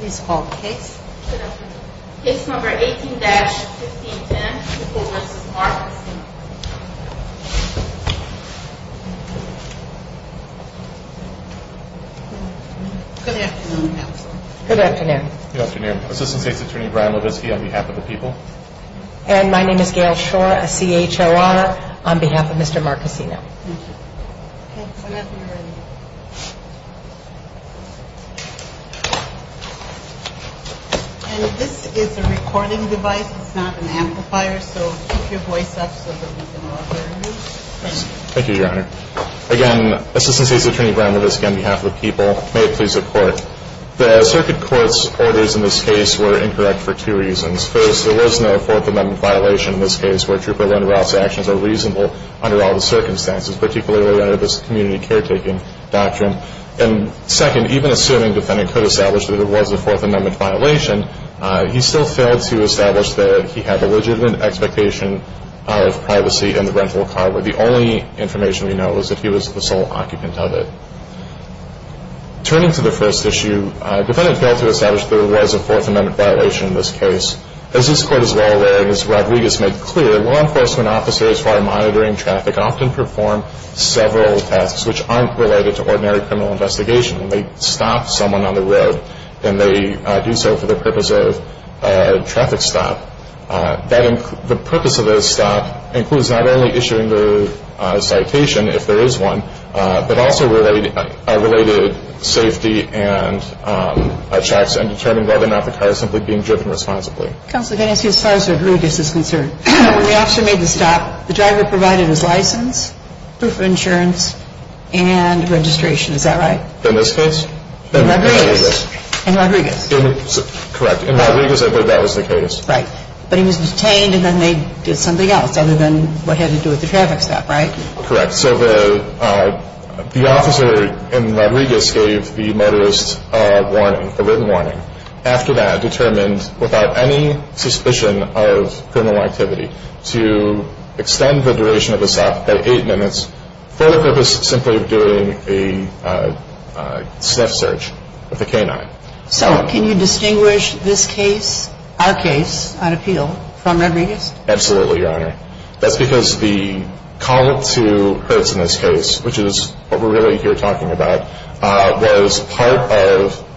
Case number 18-1510, People v. Marcosino. Good afternoon. Assistant State's Attorney Brian Levitsky on behalf of the people. May it please the court. The circuit court's orders in this case were incorrect for two reasons. First, there was an error in the order. There was no Fourth Amendment violation in this case where Trooper Leonard Rouse's actions are reasonable under all the circumstances, particularly under this community caretaking doctrine. And second, even assuming the defendant could establish that it was a Fourth Amendment violation, he still failed to establish that he had a legitimate expectation of privacy in the rental car. The only information we know is that he was the sole occupant of it. Turning to the first issue, the defendant failed to establish that it was a Fourth Amendment violation in this case. As this court is well aware, and as Rob Regas made clear, law enforcement officers who are monitoring traffic often perform several tasks which aren't related to ordinary criminal investigation. They stop someone on the road, and they do so for the purpose of a traffic stop. The purpose of this stop includes not only issuing the citation, if there is one, but also related safety and checks and determining whether or not the car is simply being driven responsibly. Counselor, can I ask you, as far as Rob Regas is concerned, when the officer made the stop, the driver provided his license, proof of insurance, and registration. Is that right? In this case? In Rob Regas. In Rob Regas. Correct. In Rob Regas, I believe that was the case. Right. But he was detained, and then they did something else other than what had to do with the traffic stop, right? Correct. So the officer in Rob Regas gave the motorist a warning, a written warning. After that, determined, without any suspicion of criminal activity, to extend the duration of the stop by eight minutes for the purpose of simply doing a sniff search of the canine. So, can you distinguish this case, our case, on appeal, from Rob Regas? Absolutely, Your Honor. That's because the call to Hertz in this case, which is what we're really here talking about, was part of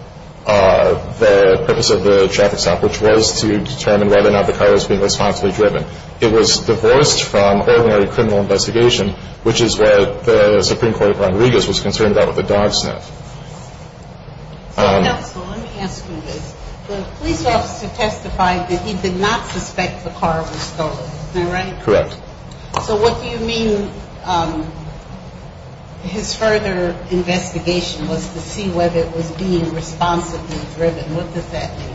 the purpose of the traffic stop, which was to determine whether or not the car was being responsibly driven. It was divorced from ordinary criminal investigation, which is what the Supreme Court of Ron Regas was concerned about with the dog sniff. Let me ask you this. The police officer testified that he did not suspect the car was stolen. Am I right? Correct. So what do you mean his further investigation was to see whether it was being responsibly driven? What does that mean?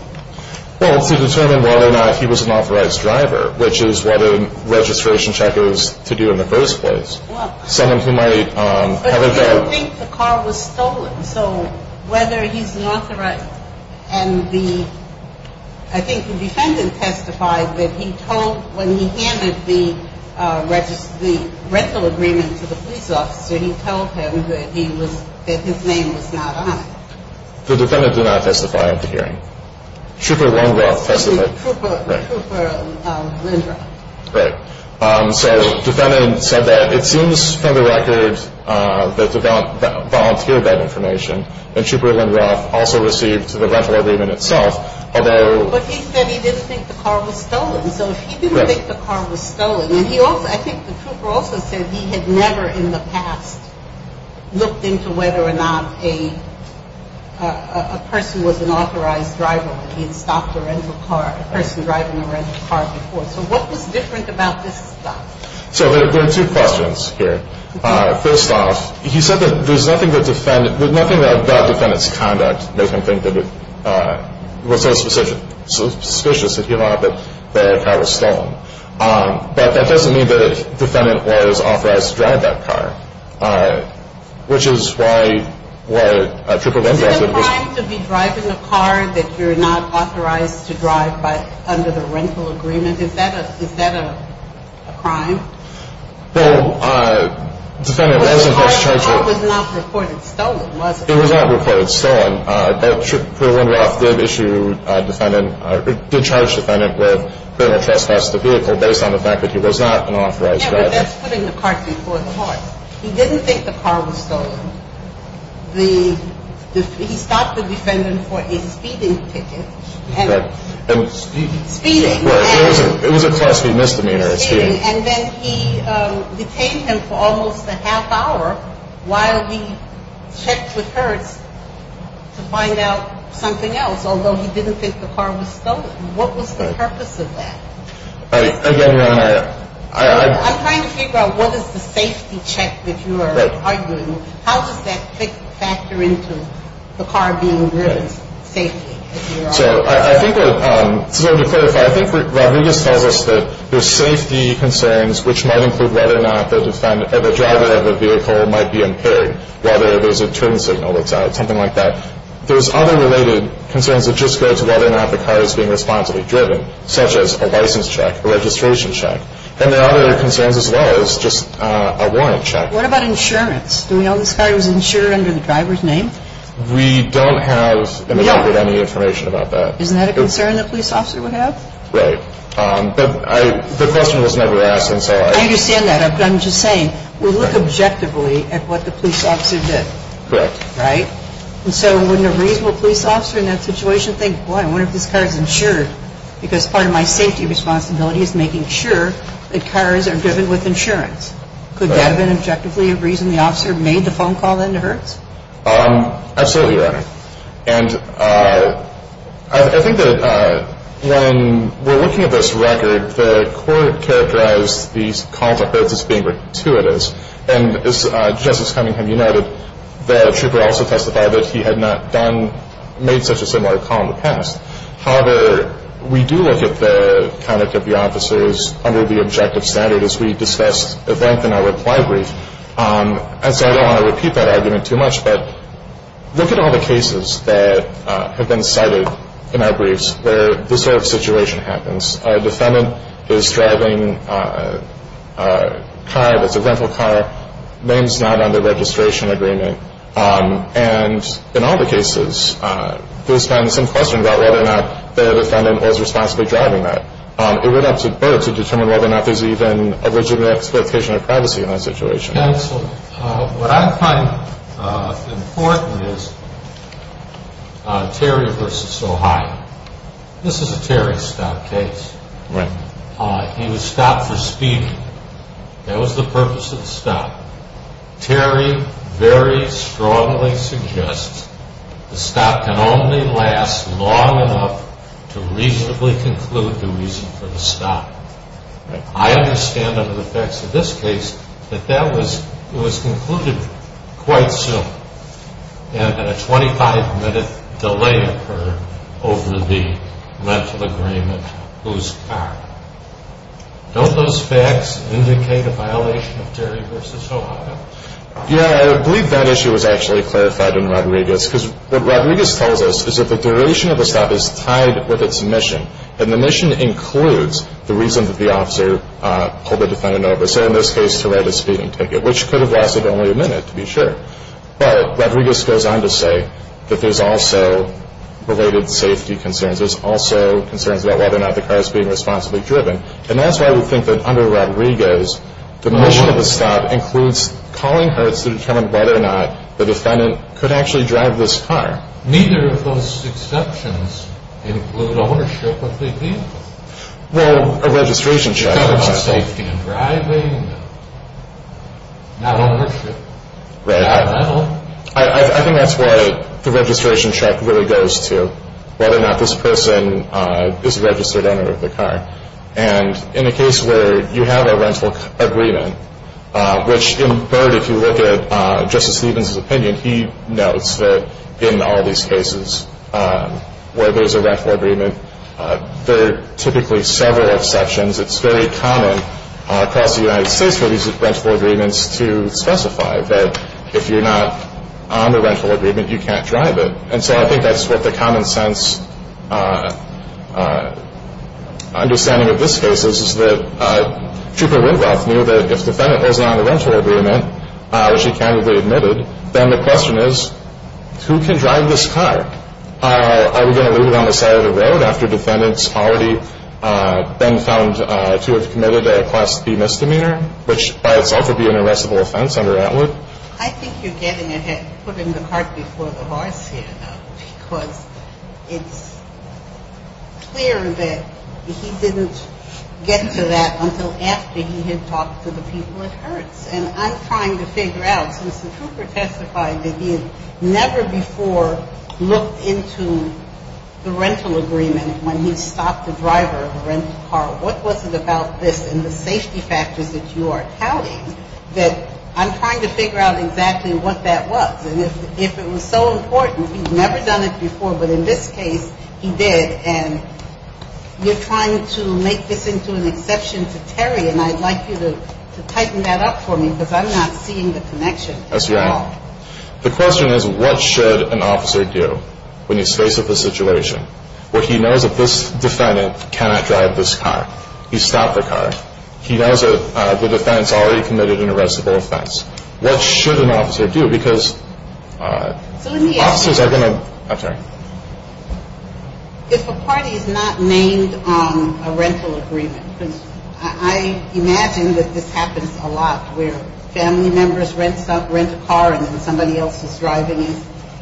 Well, it's to determine whether or not he was an authorized driver, which is what a registration check is to do in the first place. But you would think the car was stolen, so whether he's an authorized driver. I think the defendant testified that when he handed the rental agreement to the police officer, he told him that his name was not on it. The defendant did not testify at the hearing. Trooper Lindroth testified. Trooper Lindroth. So the defendant said that it seems from the record that the volunteer got information, and Trooper Lindroth also received the rental agreement itself. But he said he didn't think the car was stolen, so he didn't think the car was stolen. And I think the trooper also said he had never in the past looked into whether or not a person was an authorized driver, that he had stopped a rental car, a person driving a rental car before. So what was different about this stuff? So there are two questions here. First off, he said that there's nothing that the defendant's conduct makes him think that it was so suspicious that he thought that the car was stolen. But that doesn't mean the defendant was authorized to drive that car, which is why Trooper Lindroth. Is it a crime to be driving a car that you're not authorized to drive under the rental agreement? Is that a crime? Well, the defendant wasn't. The car was not reported stolen, was it? It was not reported stolen. Trooper Lindroth did issue a defendant, or did charge the defendant with criminal trespass of the vehicle based on the fact that he was not an authorized driver. Yeah, but that's putting the cart before the horse. He didn't think the car was stolen. He stopped the defendant for a speeding ticket. Speeding. It was a class B misdemeanor. And then he detained him for almost a half hour while he checked with Hertz to find out something else, although he didn't think the car was stolen. What was the purpose of that? Again, Your Honor. I'm trying to figure out what is the safety check that you are arguing. How does that factor into the car being driven safely? So I think we're going to clarify. I think Rodriguez tells us that there's safety concerns, which might include whether or not the driver of the vehicle might be impaired, whether there's a turn signal that's out, something like that. There's other related concerns that just go to whether or not the car is being responsibly driven, such as a license check, a registration check. And there are other concerns as well as just a warrant check. What about insurance? Do we know this car was insured under the driver's name? We don't have any information about that. Isn't that a concern the police officer would have? Right. But the question was never asked. I understand that. But I'm just saying, we'll look objectively at what the police officer did. Correct. Right? And so wouldn't a reasonable police officer in that situation think, boy, I wonder if this car is insured because part of my safety responsibility is making sure that cars are driven with insurance? Could that have been objectively a reason the officer made the phone call then to Hertz? Absolutely, Your Honor. And I think that when we're looking at this record, the court characterized these calls to Hertz as being gratuitous. And just as Cunningham, you noted, the trooper also testified that he had not made such a similar call in the past. However, we do look at the conduct of the officers under the objective standard as we discussed at length in our reply brief. And so I don't want to repeat that argument too much, but look at all the cases that have been cited in our briefs where this sort of situation happens. A defendant is driving a car that's a rental car, name's not on the registration agreement. And in all the cases, there's been some question about whether or not their defendant was responsibly driving that. It went up to Bert to determine whether or not there's even a legitimate explanation of privacy in that situation. Counsel, what I find important is Terry v. Ohio. This is a Terry stop case. Right. He was stopped for speaking. That was the purpose of the stop. Terry very strongly suggests the stop can only last long enough to reasonably conclude the reason for the stop. Right. I understand under the facts of this case that that was concluded quite soon and that a 25-minute delay occurred over the rental agreement whose car. Don't those facts indicate a violation of Terry v. Ohio? Yeah, I believe that issue was actually clarified in Rodriguez because what Rodriguez tells us is that the duration of the stop is tied with its mission and the mission includes the reason that the officer pulled the defendant over, say in this case to write a speeding ticket, which could have lasted only a minute to be sure. But Rodriguez goes on to say that there's also related safety concerns. There's also concerns about whether or not the car is being responsibly driven. And that's why we think that under Rodriguez, the mission of the stop includes calling her to determine whether or not the defendant could actually drive this car. Neither of those exceptions include ownership of the vehicle. Well, a registration check. It's about safety in driving, not ownership, not rental. I think that's what the registration check really goes to, whether or not this person is a registered owner of the car. And in a case where you have a rental agreement, which in part if you look at Justice Stevens' opinion, he notes that in all these cases where there's a rental agreement, there are typically several exceptions. It's very common across the United States for these rental agreements to specify that if you're not on the rental agreement, you can't drive it. And so I think that's what the common sense understanding of this case is, is that Trooper Winroth knew that if the defendant wasn't on the rental agreement, which he candidly admitted, then the question is, who can drive this car? Are we going to leave it on the side of the road after defendant's already been found to have committed a Class B misdemeanor, which by itself would be an arrestable offense under Atwood? I think you're getting ahead, putting the cart before the horse here, because it's clear that he didn't get to that until after he had talked to the people at Hertz. And I'm trying to figure out, since the Trooper testified that he had never before looked into the rental agreement when he stopped the driver of the rental car, what was it about this and the safety factors that you are touting, that I'm trying to figure out exactly what that was. And if it was so important, he'd never done it before, but in this case he did, and you're trying to make this into an exception to Terry, and I'd like you to tighten that up for me, because I'm not seeing the connection at all. The question is, what should an officer do when he's faced with a situation where he knows that this defendant cannot drive this car? He stopped the car. He knows that the defendant's already committed an arrestable offense. What should an officer do? If a party is not named on a rental agreement, I imagine that this happens a lot, where family members rent a car and then somebody else is driving it.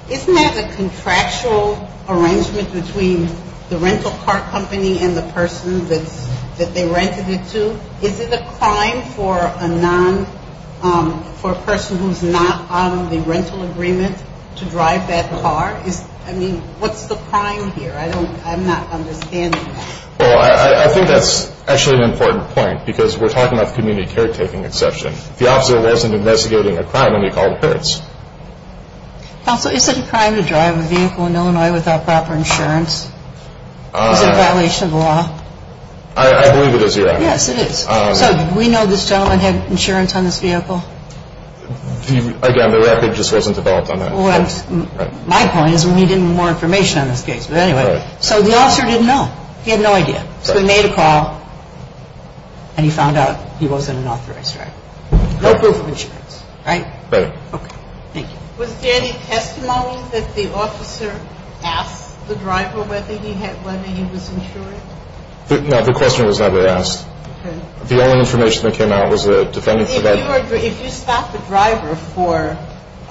Isn't that a contractual arrangement between the rental car company and the person that they rented it to? Is it a crime for a person who's not on the rental agreement to drive that car? I mean, what's the crime here? I'm not understanding that. Well, I think that's actually an important point, because we're talking about the community caretaking exception. If the officer wasn't investigating a crime, then he'd call the parents. Counsel, is it a crime to drive a vehicle in Illinois without proper insurance? Is it a violation of the law? I believe it is, Your Honor. Yes, it is. So do we know this gentleman had insurance on this vehicle? Again, the record just wasn't developed on that. My point is we need more information on this case. But anyway, so the officer didn't know. He had no idea. So he made a call, and he found out he wasn't an authorized driver. No proof of insurance, right? Right. Okay. Thank you. Was there any testimony that the officer asked the driver whether he was insured? No, the question was never asked. Okay. The only information that came out was a defendant's record. If you stop the driver for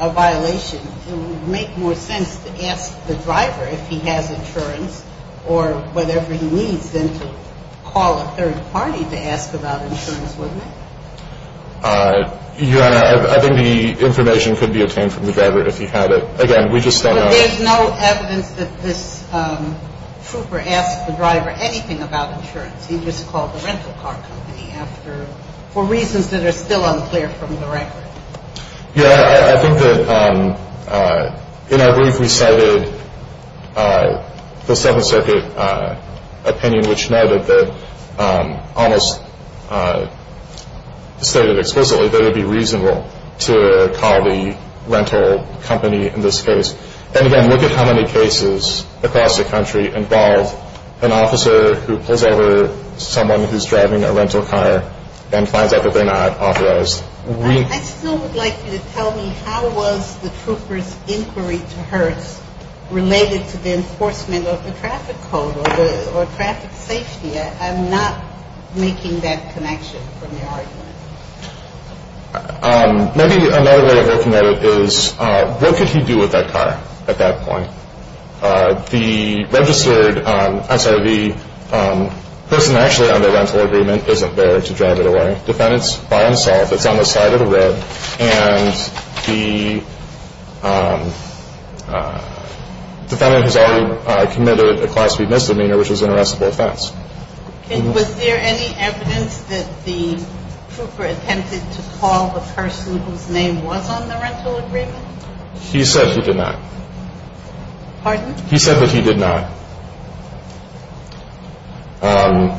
a violation, it would make more sense to ask the driver if he has insurance or whatever he needs, then to call a third party to ask about insurance, wouldn't it? Your Honor, I think the information could be obtained from the driver if he had it. Again, we just don't know. There's no evidence that this trooper asked the driver anything about insurance. He just called the rental car company for reasons that are still unclear from the record. Yeah, I think that in our brief we cited the Seventh Circuit opinion, which noted that almost stated explicitly that it would be reasonable to call the rental company in this case and, again, look at how many cases across the country involve an officer who pulls over someone who's driving a rental car and finds out that they're not authorized. I still would like you to tell me how was the trooper's inquiry to Hertz related to the enforcement of the traffic code or traffic safety? I'm not making that connection from your argument. Maybe another way of looking at it is what could he do with that car at that point? The person actually on the rental agreement isn't there to drive it away. The defendant's by himself. It's on the side of the road, and the defendant has already committed a Class V misdemeanor, which is an arrestable offense. Was there any evidence that the trooper attempted to call the person whose name was on the rental agreement? He said he did not. Pardon? He said that he did not. Although,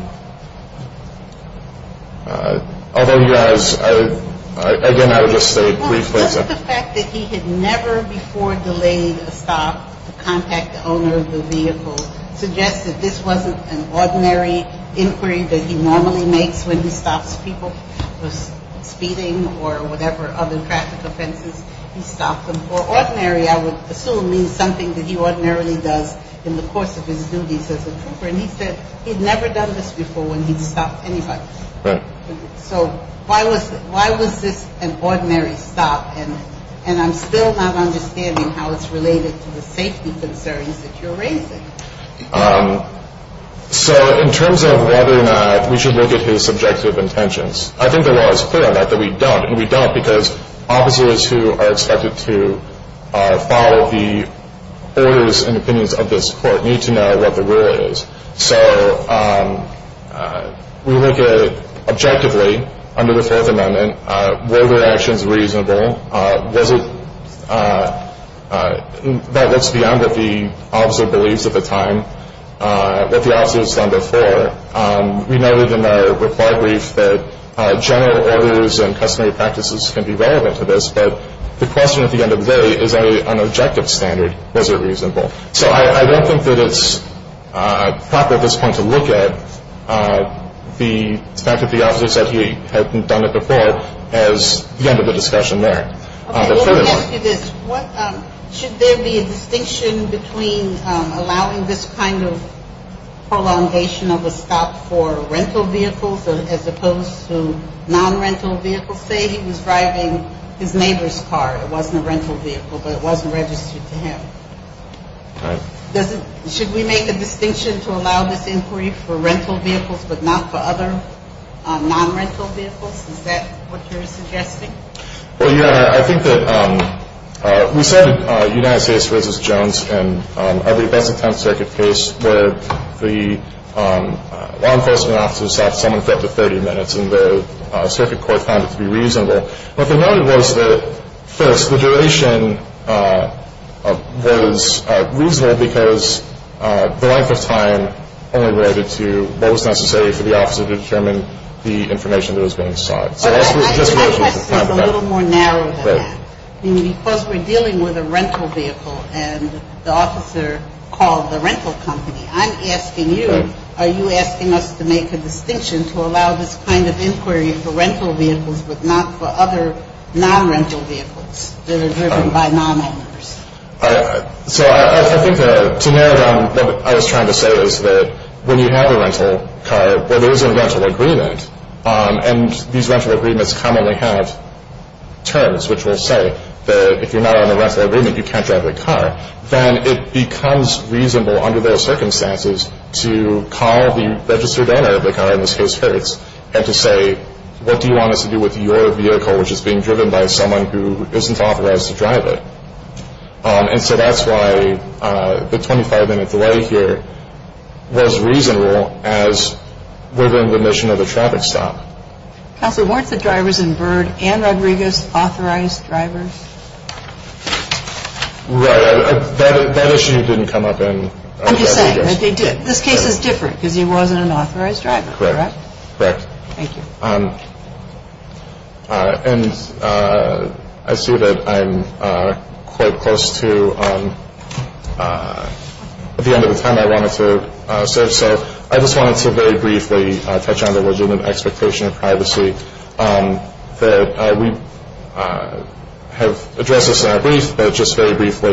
you guys, again, I would just say briefly. Well, doesn't the fact that he had never before delayed a stop to contact the owner of the vehicle suggest that this wasn't an ordinary inquiry that he normally makes when he stops people speeding or whatever other traffic offenses he's stopped them for? Ordinary, I would assume, means something that he ordinarily does in the course of his duties as a trooper. And he said he'd never done this before when he'd stopped anybody. Right. So why was this an ordinary stop? And I'm still not understanding how it's related to the safety concerns that you're raising. So in terms of whether or not we should look at his subjective intentions, I think the law is clear on that, that we don't. And we don't because officers who are expected to follow the orders and opinions of this court need to know what the rule is. So we look at, objectively, under the Fourth Amendment, were their actions reasonable? Was it? That looks beyond what the officer believes at the time, what the officer has done before. We noted in our reply brief that general orders and customary practices can be relevant to this, but the question at the end of the day, is that an objective standard? Was it reasonable? So I don't think that it's proper at this point to look at the fact that the officer said he hadn't done it before as the end of the discussion there. Okay, let me ask you this. Should there be a distinction between allowing this kind of prolongation of a stop for rental vehicles as opposed to non-rental vehicles? Say he was driving his neighbor's car. It wasn't a rental vehicle, but it wasn't registered to him. All right. Should we make a distinction to allow this inquiry for rental vehicles but not for other non-rental vehicles? Is that what you're suggesting? Well, yeah. I think that we cited United States v. Jones in every best attempt circuit case where the law enforcement officer stopped someone for up to 30 minutes and the circuit court found it to be reasonable. What they noted was that, first, the duration was reasonable because the length of time only related to what was necessary for the officer to determine the information that was being sought. My question is a little more narrow than that. Because we're dealing with a rental vehicle and the officer called the rental company, I'm asking you, are you asking us to make a distinction to allow this kind of inquiry for rental vehicles but not for other non-rental vehicles that are driven by non-owners? So I think to narrow it down, what I was trying to say is that when you have a rental car where there is a rental agreement, and these rental agreements commonly have terms which will say that if you're not on a rental agreement, you can't drive the car, then it becomes reasonable under those circumstances to call the registered owner of the car, in this case, Hertz, and to say, what do you want us to do with your vehicle which is being driven by someone who isn't authorized to drive it? And so that's why the 25-minute delay here was reasonable as within the mission of the traffic stop. Counselor, weren't the drivers in Byrd and Rodriguez authorized drivers? Right. That issue didn't come up in Rodriguez. This case is different because he wasn't an authorized driver, correct? Correct. Thank you. And I see that I'm quite close to the end of the time I wanted to say, so I just wanted to very briefly touch on the legitimate expectation of privacy that we have addressed this in our brief, but just very briefly,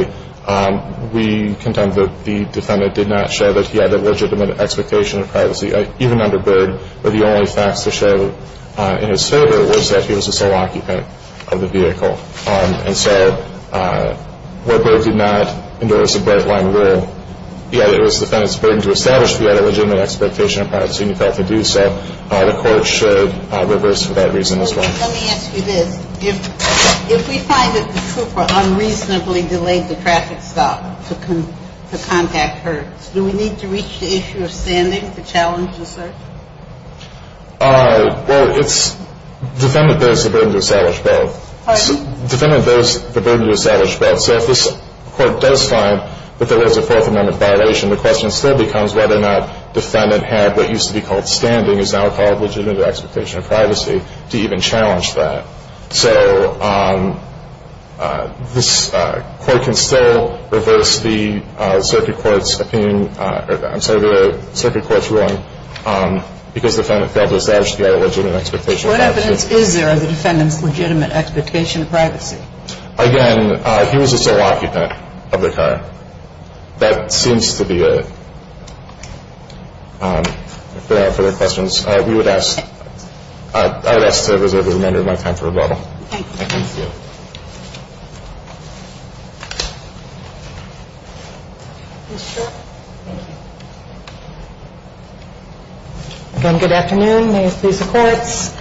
we contend that the defendant did not show that he had a legitimate expectation of privacy, even under Byrd, where the only facts to show in his favor was that he was a sole occupant of the vehicle. And so, where Byrd did not endorse a bright-line rule, yet it was the defendant's burden to establish that he had a legitimate expectation of privacy, and he failed to do so, the court should reverse for that reason as well. Let me ask you this. If we find that the trooper unreasonably delayed the traffic stop to contact her, do we need to reach the issue of standing for challenges, sir? Well, it's the defendant bears the burden to establish both. Pardon? The defendant bears the burden to establish both. So if this court does find that there is a Fourth Amendment violation, the question still becomes whether or not the defendant had what used to be called standing, is now called legitimate expectation of privacy, to even challenge that. So this court can still reverse the circuit court's opinion, I'm sorry, the circuit court's ruling, because the defendant failed to establish that he had a legitimate expectation of privacy. What evidence is there of the defendant's legitimate expectation of privacy? Again, he was a sole occupant of the car. That seems to be it. If there are no further questions, I would ask to reserve the remainder of my time for rebuttal. Thank you. Thank you. Again, good afternoon. May it please the courts.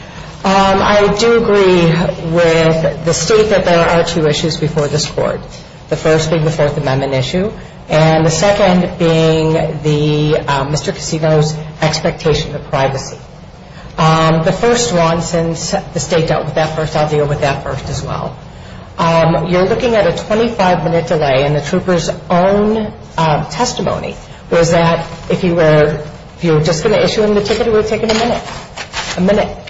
I do agree with the state that there are two issues before this court. The first being the Fourth Amendment issue, and the second being Mr. Casino's expectation of privacy. The first one, since the state dealt with that first, I'll deal with that first as well. You're looking at a 25-minute delay, and the trooper's own testimony was that if you were just going to issue him the ticket, it would have taken a minute. A minute.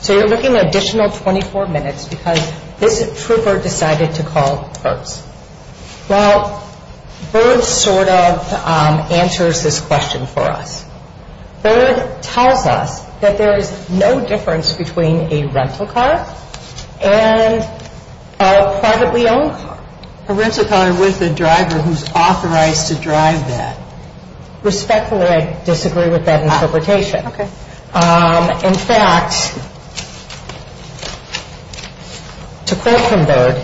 So you're looking at an additional 24 minutes because this trooper decided to call first. Well, Byrd sort of answers this question for us. Byrd tells us that there is no difference between a rental car and a privately owned car. A rental car with a driver who's authorized to drive that. Respectfully, I disagree with that interpretation. Okay. In fact, to quote from Byrd,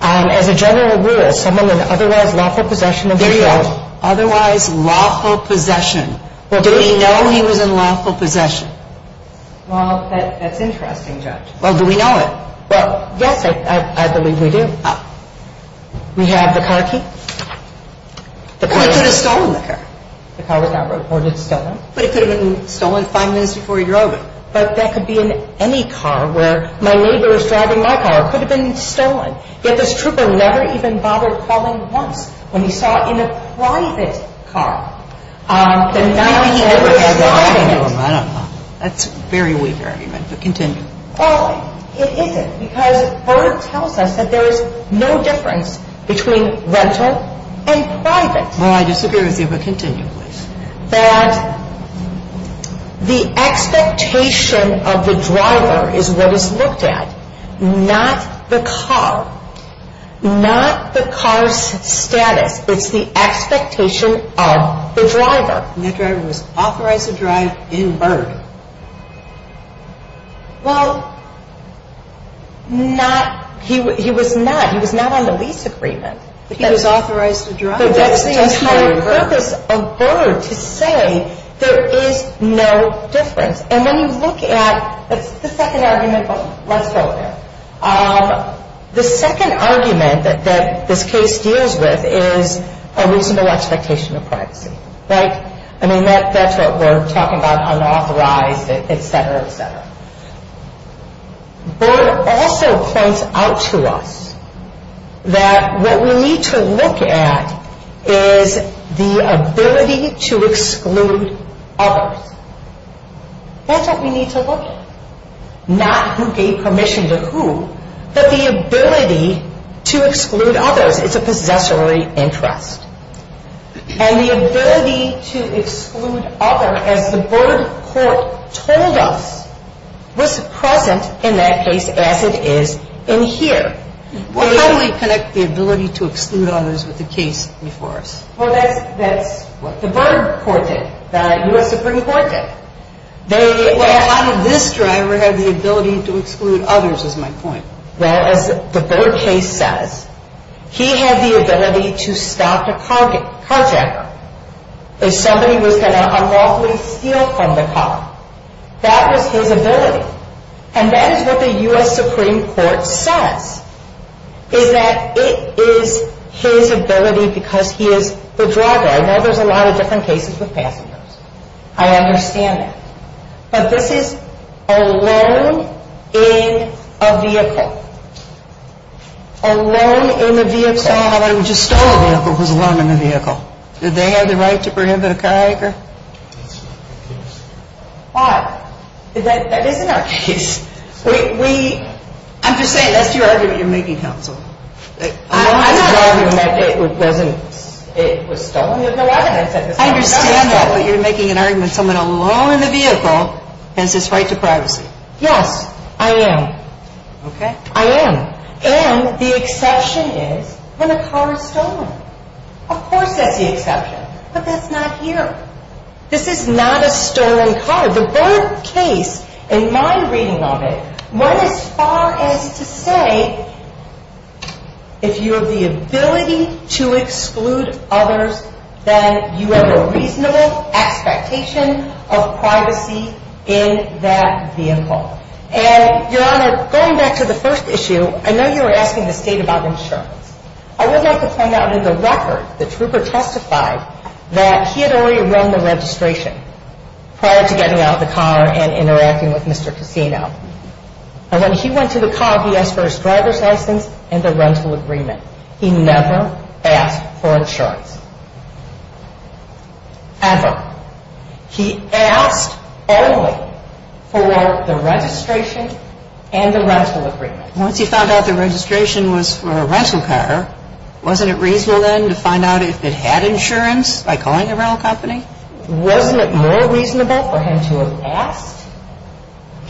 as a general rule, someone in otherwise lawful possession of a vehicle. There you go. Otherwise lawful possession. Do we know he was in lawful possession? Well, that's interesting, Judge. Well, do we know it? Well, yes, I believe we do. We have the car key. The car was not reported stolen. But it could have been stolen five minutes before he drove it. But that could be in any car where my neighbor was driving my car. It could have been stolen. Yet this trooper never even bothered calling once when he saw in a private car the night that he was driving it. I don't know. That's very wavering, but continue. Well, it isn't because Byrd tells us that there is no difference between rental and private. Well, I disagree with you, but continue, please. That the expectation of the driver is what is looked at, not the car. Not the car's status. It's the expectation of the driver. And that driver was authorized to drive in Byrd. Well, he was not. He was not on the lease agreement. But he was authorized to drive. But that's the entire purpose of Byrd, to say there is no difference. And when you look at the second argument, let's go there. The second argument that this case deals with is a reasonable expectation of privacy, right? I mean, that's what we're talking about, unauthorized, et cetera, et cetera. Byrd also points out to us that what we need to look at is the ability to exclude others. That's what we need to look at. Not who gave permission to who, but the ability to exclude others. It's a possessory interest. And the ability to exclude others, as the Byrd court told us, was present in that case as it is in here. Well, how do we connect the ability to exclude others with the case before us? Well, that's what the Byrd court did. The U.S. Supreme Court did. Well, how did this driver have the ability to exclude others is my point. Well, as the Byrd case says, he had the ability to stop a carjacker. If somebody was going to unlawfully steal from the car, that was his ability. And that is what the U.S. Supreme Court says, is that it is his ability because he is the driver. I know there's a lot of different cases with passengers. I understand that. But this is alone in a vehicle. Alone in a vehicle. Somebody who just stole a vehicle was alone in a vehicle. Did they have the right to prohibit a carjacker? That's not the case. Why? That isn't our case. I'm just saying, that's your argument you're making, counsel. I'm not arguing that it was stolen. I understand that, but you're making an argument someone alone in a vehicle has this right to privacy. Yes, I am. Okay. I am. And the exception is when a car is stolen. Of course that's the exception. But that's not here. This is not a stolen car. Your Honor, the Burke case, in my reading of it, went as far as to say if you have the ability to exclude others, then you have a reasonable expectation of privacy in that vehicle. And, Your Honor, going back to the first issue, I know you were asking the State about insurance. I would like to point out in the record, the trooper testified that he had already run the registration prior to getting out of the car and interacting with Mr. Cassino. And when he went to the car, he asked for his driver's license and the rental agreement. He never asked for insurance. Ever. He asked only for the registration and the rental agreement. Once he found out the registration was for a rental car, wasn't it reasonable then to find out if it had insurance by calling the rental company? Wasn't it more reasonable for him to have asked?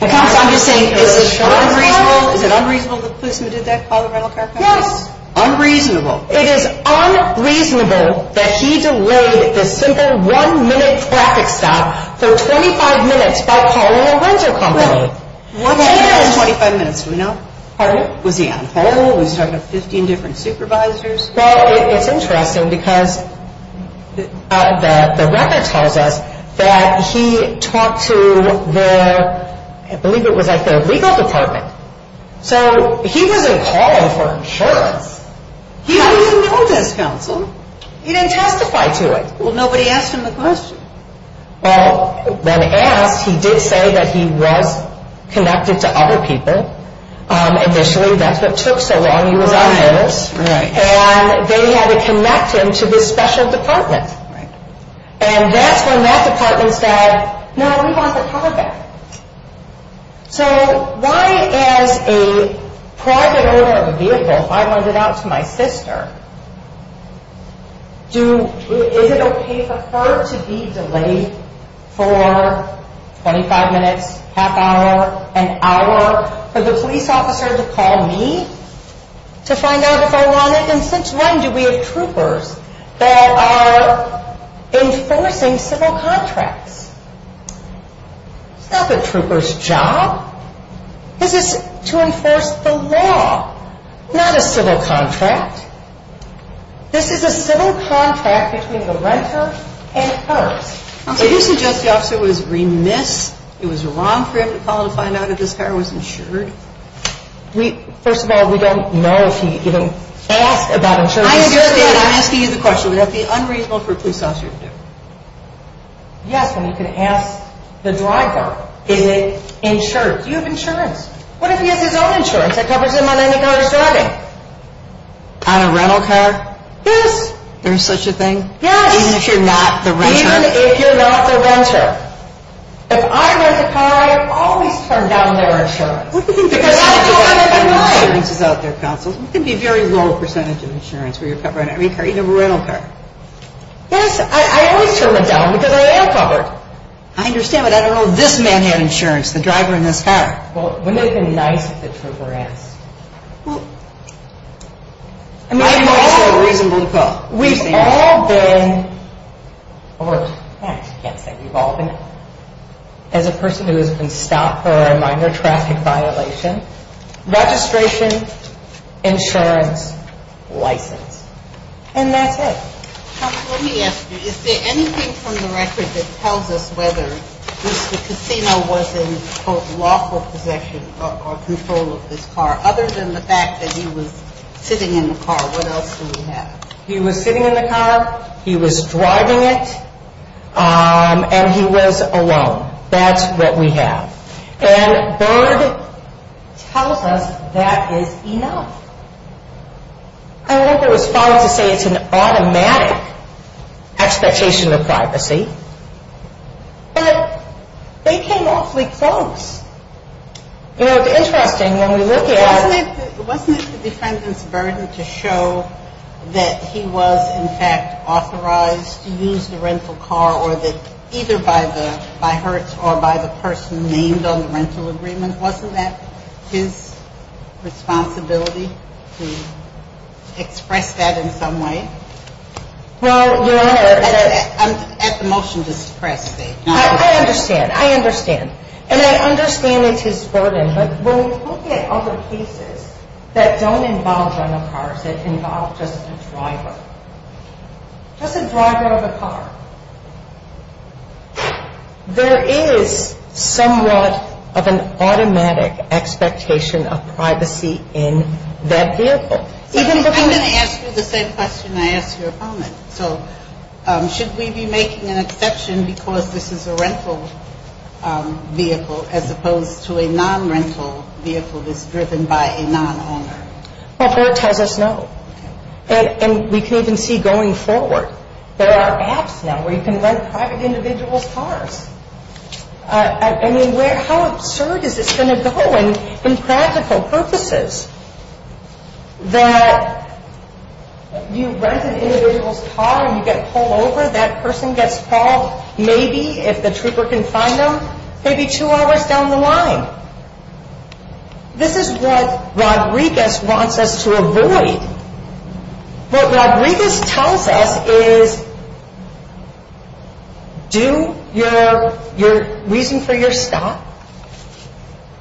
I'm just saying, is it unreasonable? Is it unreasonable for the policeman to have called the rental car company? Yes. Unreasonable. It is unreasonable that he delayed the simple one-minute traffic stop for 25 minutes by calling a rental company. Well, what do you mean 25 minutes? Do we know? Pardon? Was he on hold? Was he talking to 15 different supervisors? Well, it's interesting because the record tells us that he talked to the, I believe it was like the legal department. So he wasn't calling for insurance. He didn't even know this, counsel. He didn't testify to it. Well, nobody asked him the question. Well, when asked, he did say that he was connected to other people. Initially, that's what took so long he was on notice. Right. And they had to connect him to this special department. Right. And that's when that department said, no, we want the car back. So why, as a private owner of a vehicle, if I lend it out to my sister, is it okay for her to be delayed for 25 minutes, half hour, an hour, for the police officer to call me to find out if I want it? And since when do we have troopers that are enforcing civil contracts? It's not the trooper's job. This is to enforce the law, not a civil contract. This is a civil contract between the renter and us. So you suggest the officer was remiss, it was wrong for him to call to find out if this car was insured? First of all, we don't know if he asked about insurance. I understand. I'm asking you the question. Would that be unreasonable for a police officer to do? Yes, and you can ask the driver. Is it insured? Do you have insurance? What if he has his own insurance that covers him on any kind of driving? On a rental car? Yes. There's such a thing? Yes. Even if you're not the renter? Even if you're not the renter. If I rent a car, I always turn down their insurance. What do you mean the percentage of insurance is out there, counsel? It can be a very low percentage of insurance where you're covering every car, even a rental car. Yes, I always turn it down because I am covered. I understand, but I don't know if this man had insurance, the driver in this car. Well, wouldn't it have been nice if the trooper asked? Well, it might have been also reasonable to call. We've all been, or I can't say we've all been, as a person who has been stopped for a minor traffic violation, registration, insurance, license, and that's it. Counsel, let me ask you, is there anything from the record that tells us whether Mr. Casino was in, quote, lawful possession or control of this car other than the fact that he was sitting in the car? What else do we have? He was sitting in the car, he was driving it, and he was alone. That's what we have. And Byrd tells us that is enough. I think it was fine to say it's an automatic expectation of privacy, but they came awfully close. You know, it's interesting, when we look at it. Wasn't it the defendant's burden to show that he was, in fact, authorized to use the rental car, or that either by Hertz or by the person named on the rental agreement, wasn't that his responsibility to express that in some way? Well, Your Honor. At the motion to suppress. I understand. And I understand it's his burden, but when we look at other cases that don't involve rental cars, that involve just a driver, just a driver of a car, there is somewhat of an automatic expectation of privacy in that vehicle. I'm going to ask you the same question I asked your opponent. So should we be making an exception because this is a rental vehicle as opposed to a non-rental vehicle that's driven by a non-owner? Well, Byrd tells us no. And we can even see going forward, there are apps now where you can rent private individuals' cars. I mean, how absurd is this going to go? And in practical purposes, that you rent an individual's car and you get pulled over, that person gets called maybe, if the trooper can find them, maybe two hours down the line. This is what Rodriguez wants us to avoid. What Rodriguez tells us is, do your reason for your stop.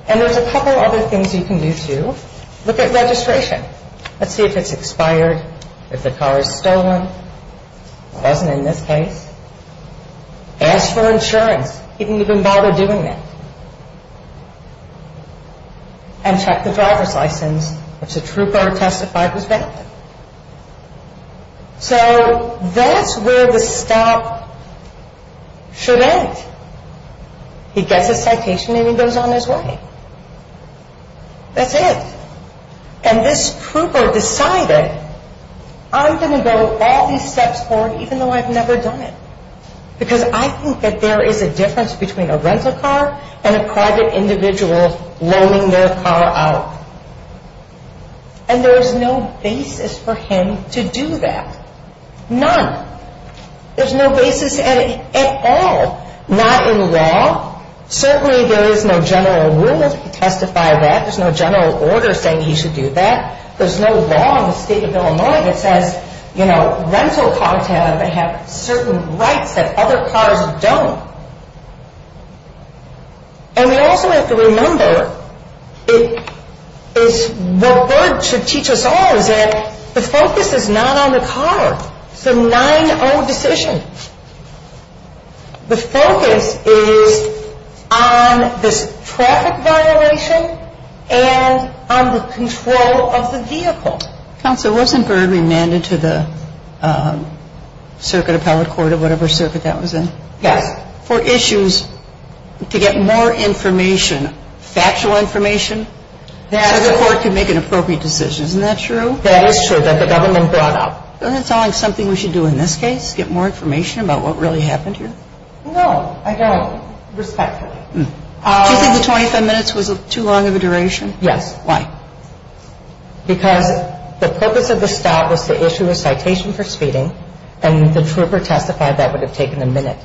And there's a couple other things you can do, too. Look at registration. Let's see if it's expired, if the car is stolen. It wasn't in this case. Ask for insurance. He didn't even bother doing that. And check the driver's license. If the trooper testified, it was valid. So that's where the stop should end. He gets his citation and he goes on his way. That's it. And this trooper decided, I'm going to go all these steps forward even though I've never done it. Because I think that there is a difference between a rental car and a private individual loaning their car out. And there is no basis for him to do that. None. There's no basis at all. Not in law. Certainly there is no general rule to testify that. There's no general order saying he should do that. There's no law in the state of Illinois that says, you know, rental cars have certain rights that other cars don't. And we also have to remember is what Byrd should teach us all is that the focus is not on the car. It's a 9-0 decision. The focus is on this traffic violation and on the control of the vehicle. Counsel, wasn't Byrd remanded to the circuit appellate court or whatever circuit that was in? Yes. For issues to get more information, factual information, so the court can make an appropriate decision. Isn't that true? That is true that the government brought up. Isn't that telling something we should do in this case, get more information about what really happened here? No, I don't, respectfully. Do you think the 25 minutes was too long of a duration? Yes. Why? Because the purpose of the stop was to issue a citation for speeding. And the trooper testified that would have taken a minute.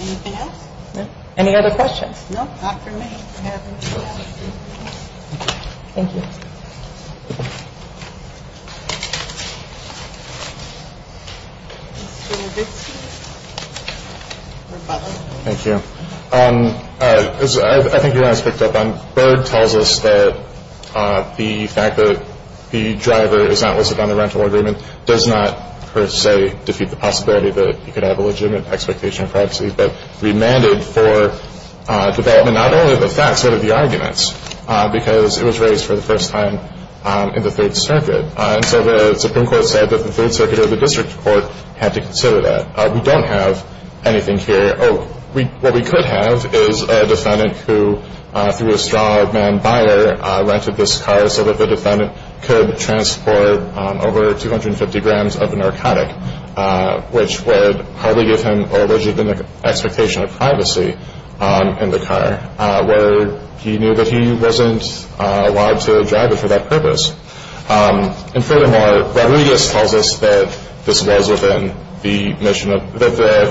Anything else? No. Any other questions? No, not for me. Thank you. Thank you. As I think you guys picked up on, Byrd tells us that the fact that the driver is not listed on the rental agreement does not per se defeat the possibility that he could have a legitimate expectation of privacy, but remanded for development not only of the facts but of the arguments because it was raised for the first time in the Third Circuit. And so the Supreme Court said that the Third Circuit or the district court had to consider that. We don't have anything here. Oh, what we could have is a defendant who, through a straw man buyer, rented this car so that the defendant could transport over 250 grams of narcotic, which would probably give him a legitimate expectation of privacy in the car, where he knew that he wasn't allowed to drive it for that purpose. And furthermore, Rodriguez tells us that the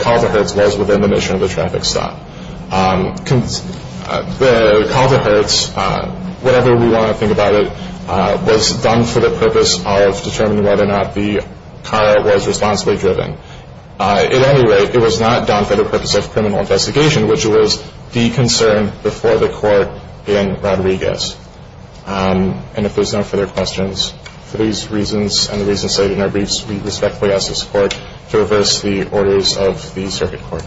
call to Hertz was within the mission of the traffic stop. The call to Hertz, whatever we want to think about it, was done for the purpose of determining whether or not the car was responsibly driven. At any rate, it was not done for the purpose of criminal investigation, And if there's no further questions, for these reasons and the reasons cited in our briefs, we respectfully ask for support to reverse the orders of the circuit court.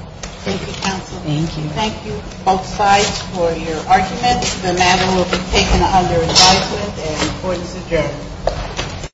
Thank you. Thank you, counsel. Thank you. Thank you both sides for your arguments. The matter will be taken under advisement and court is adjourned.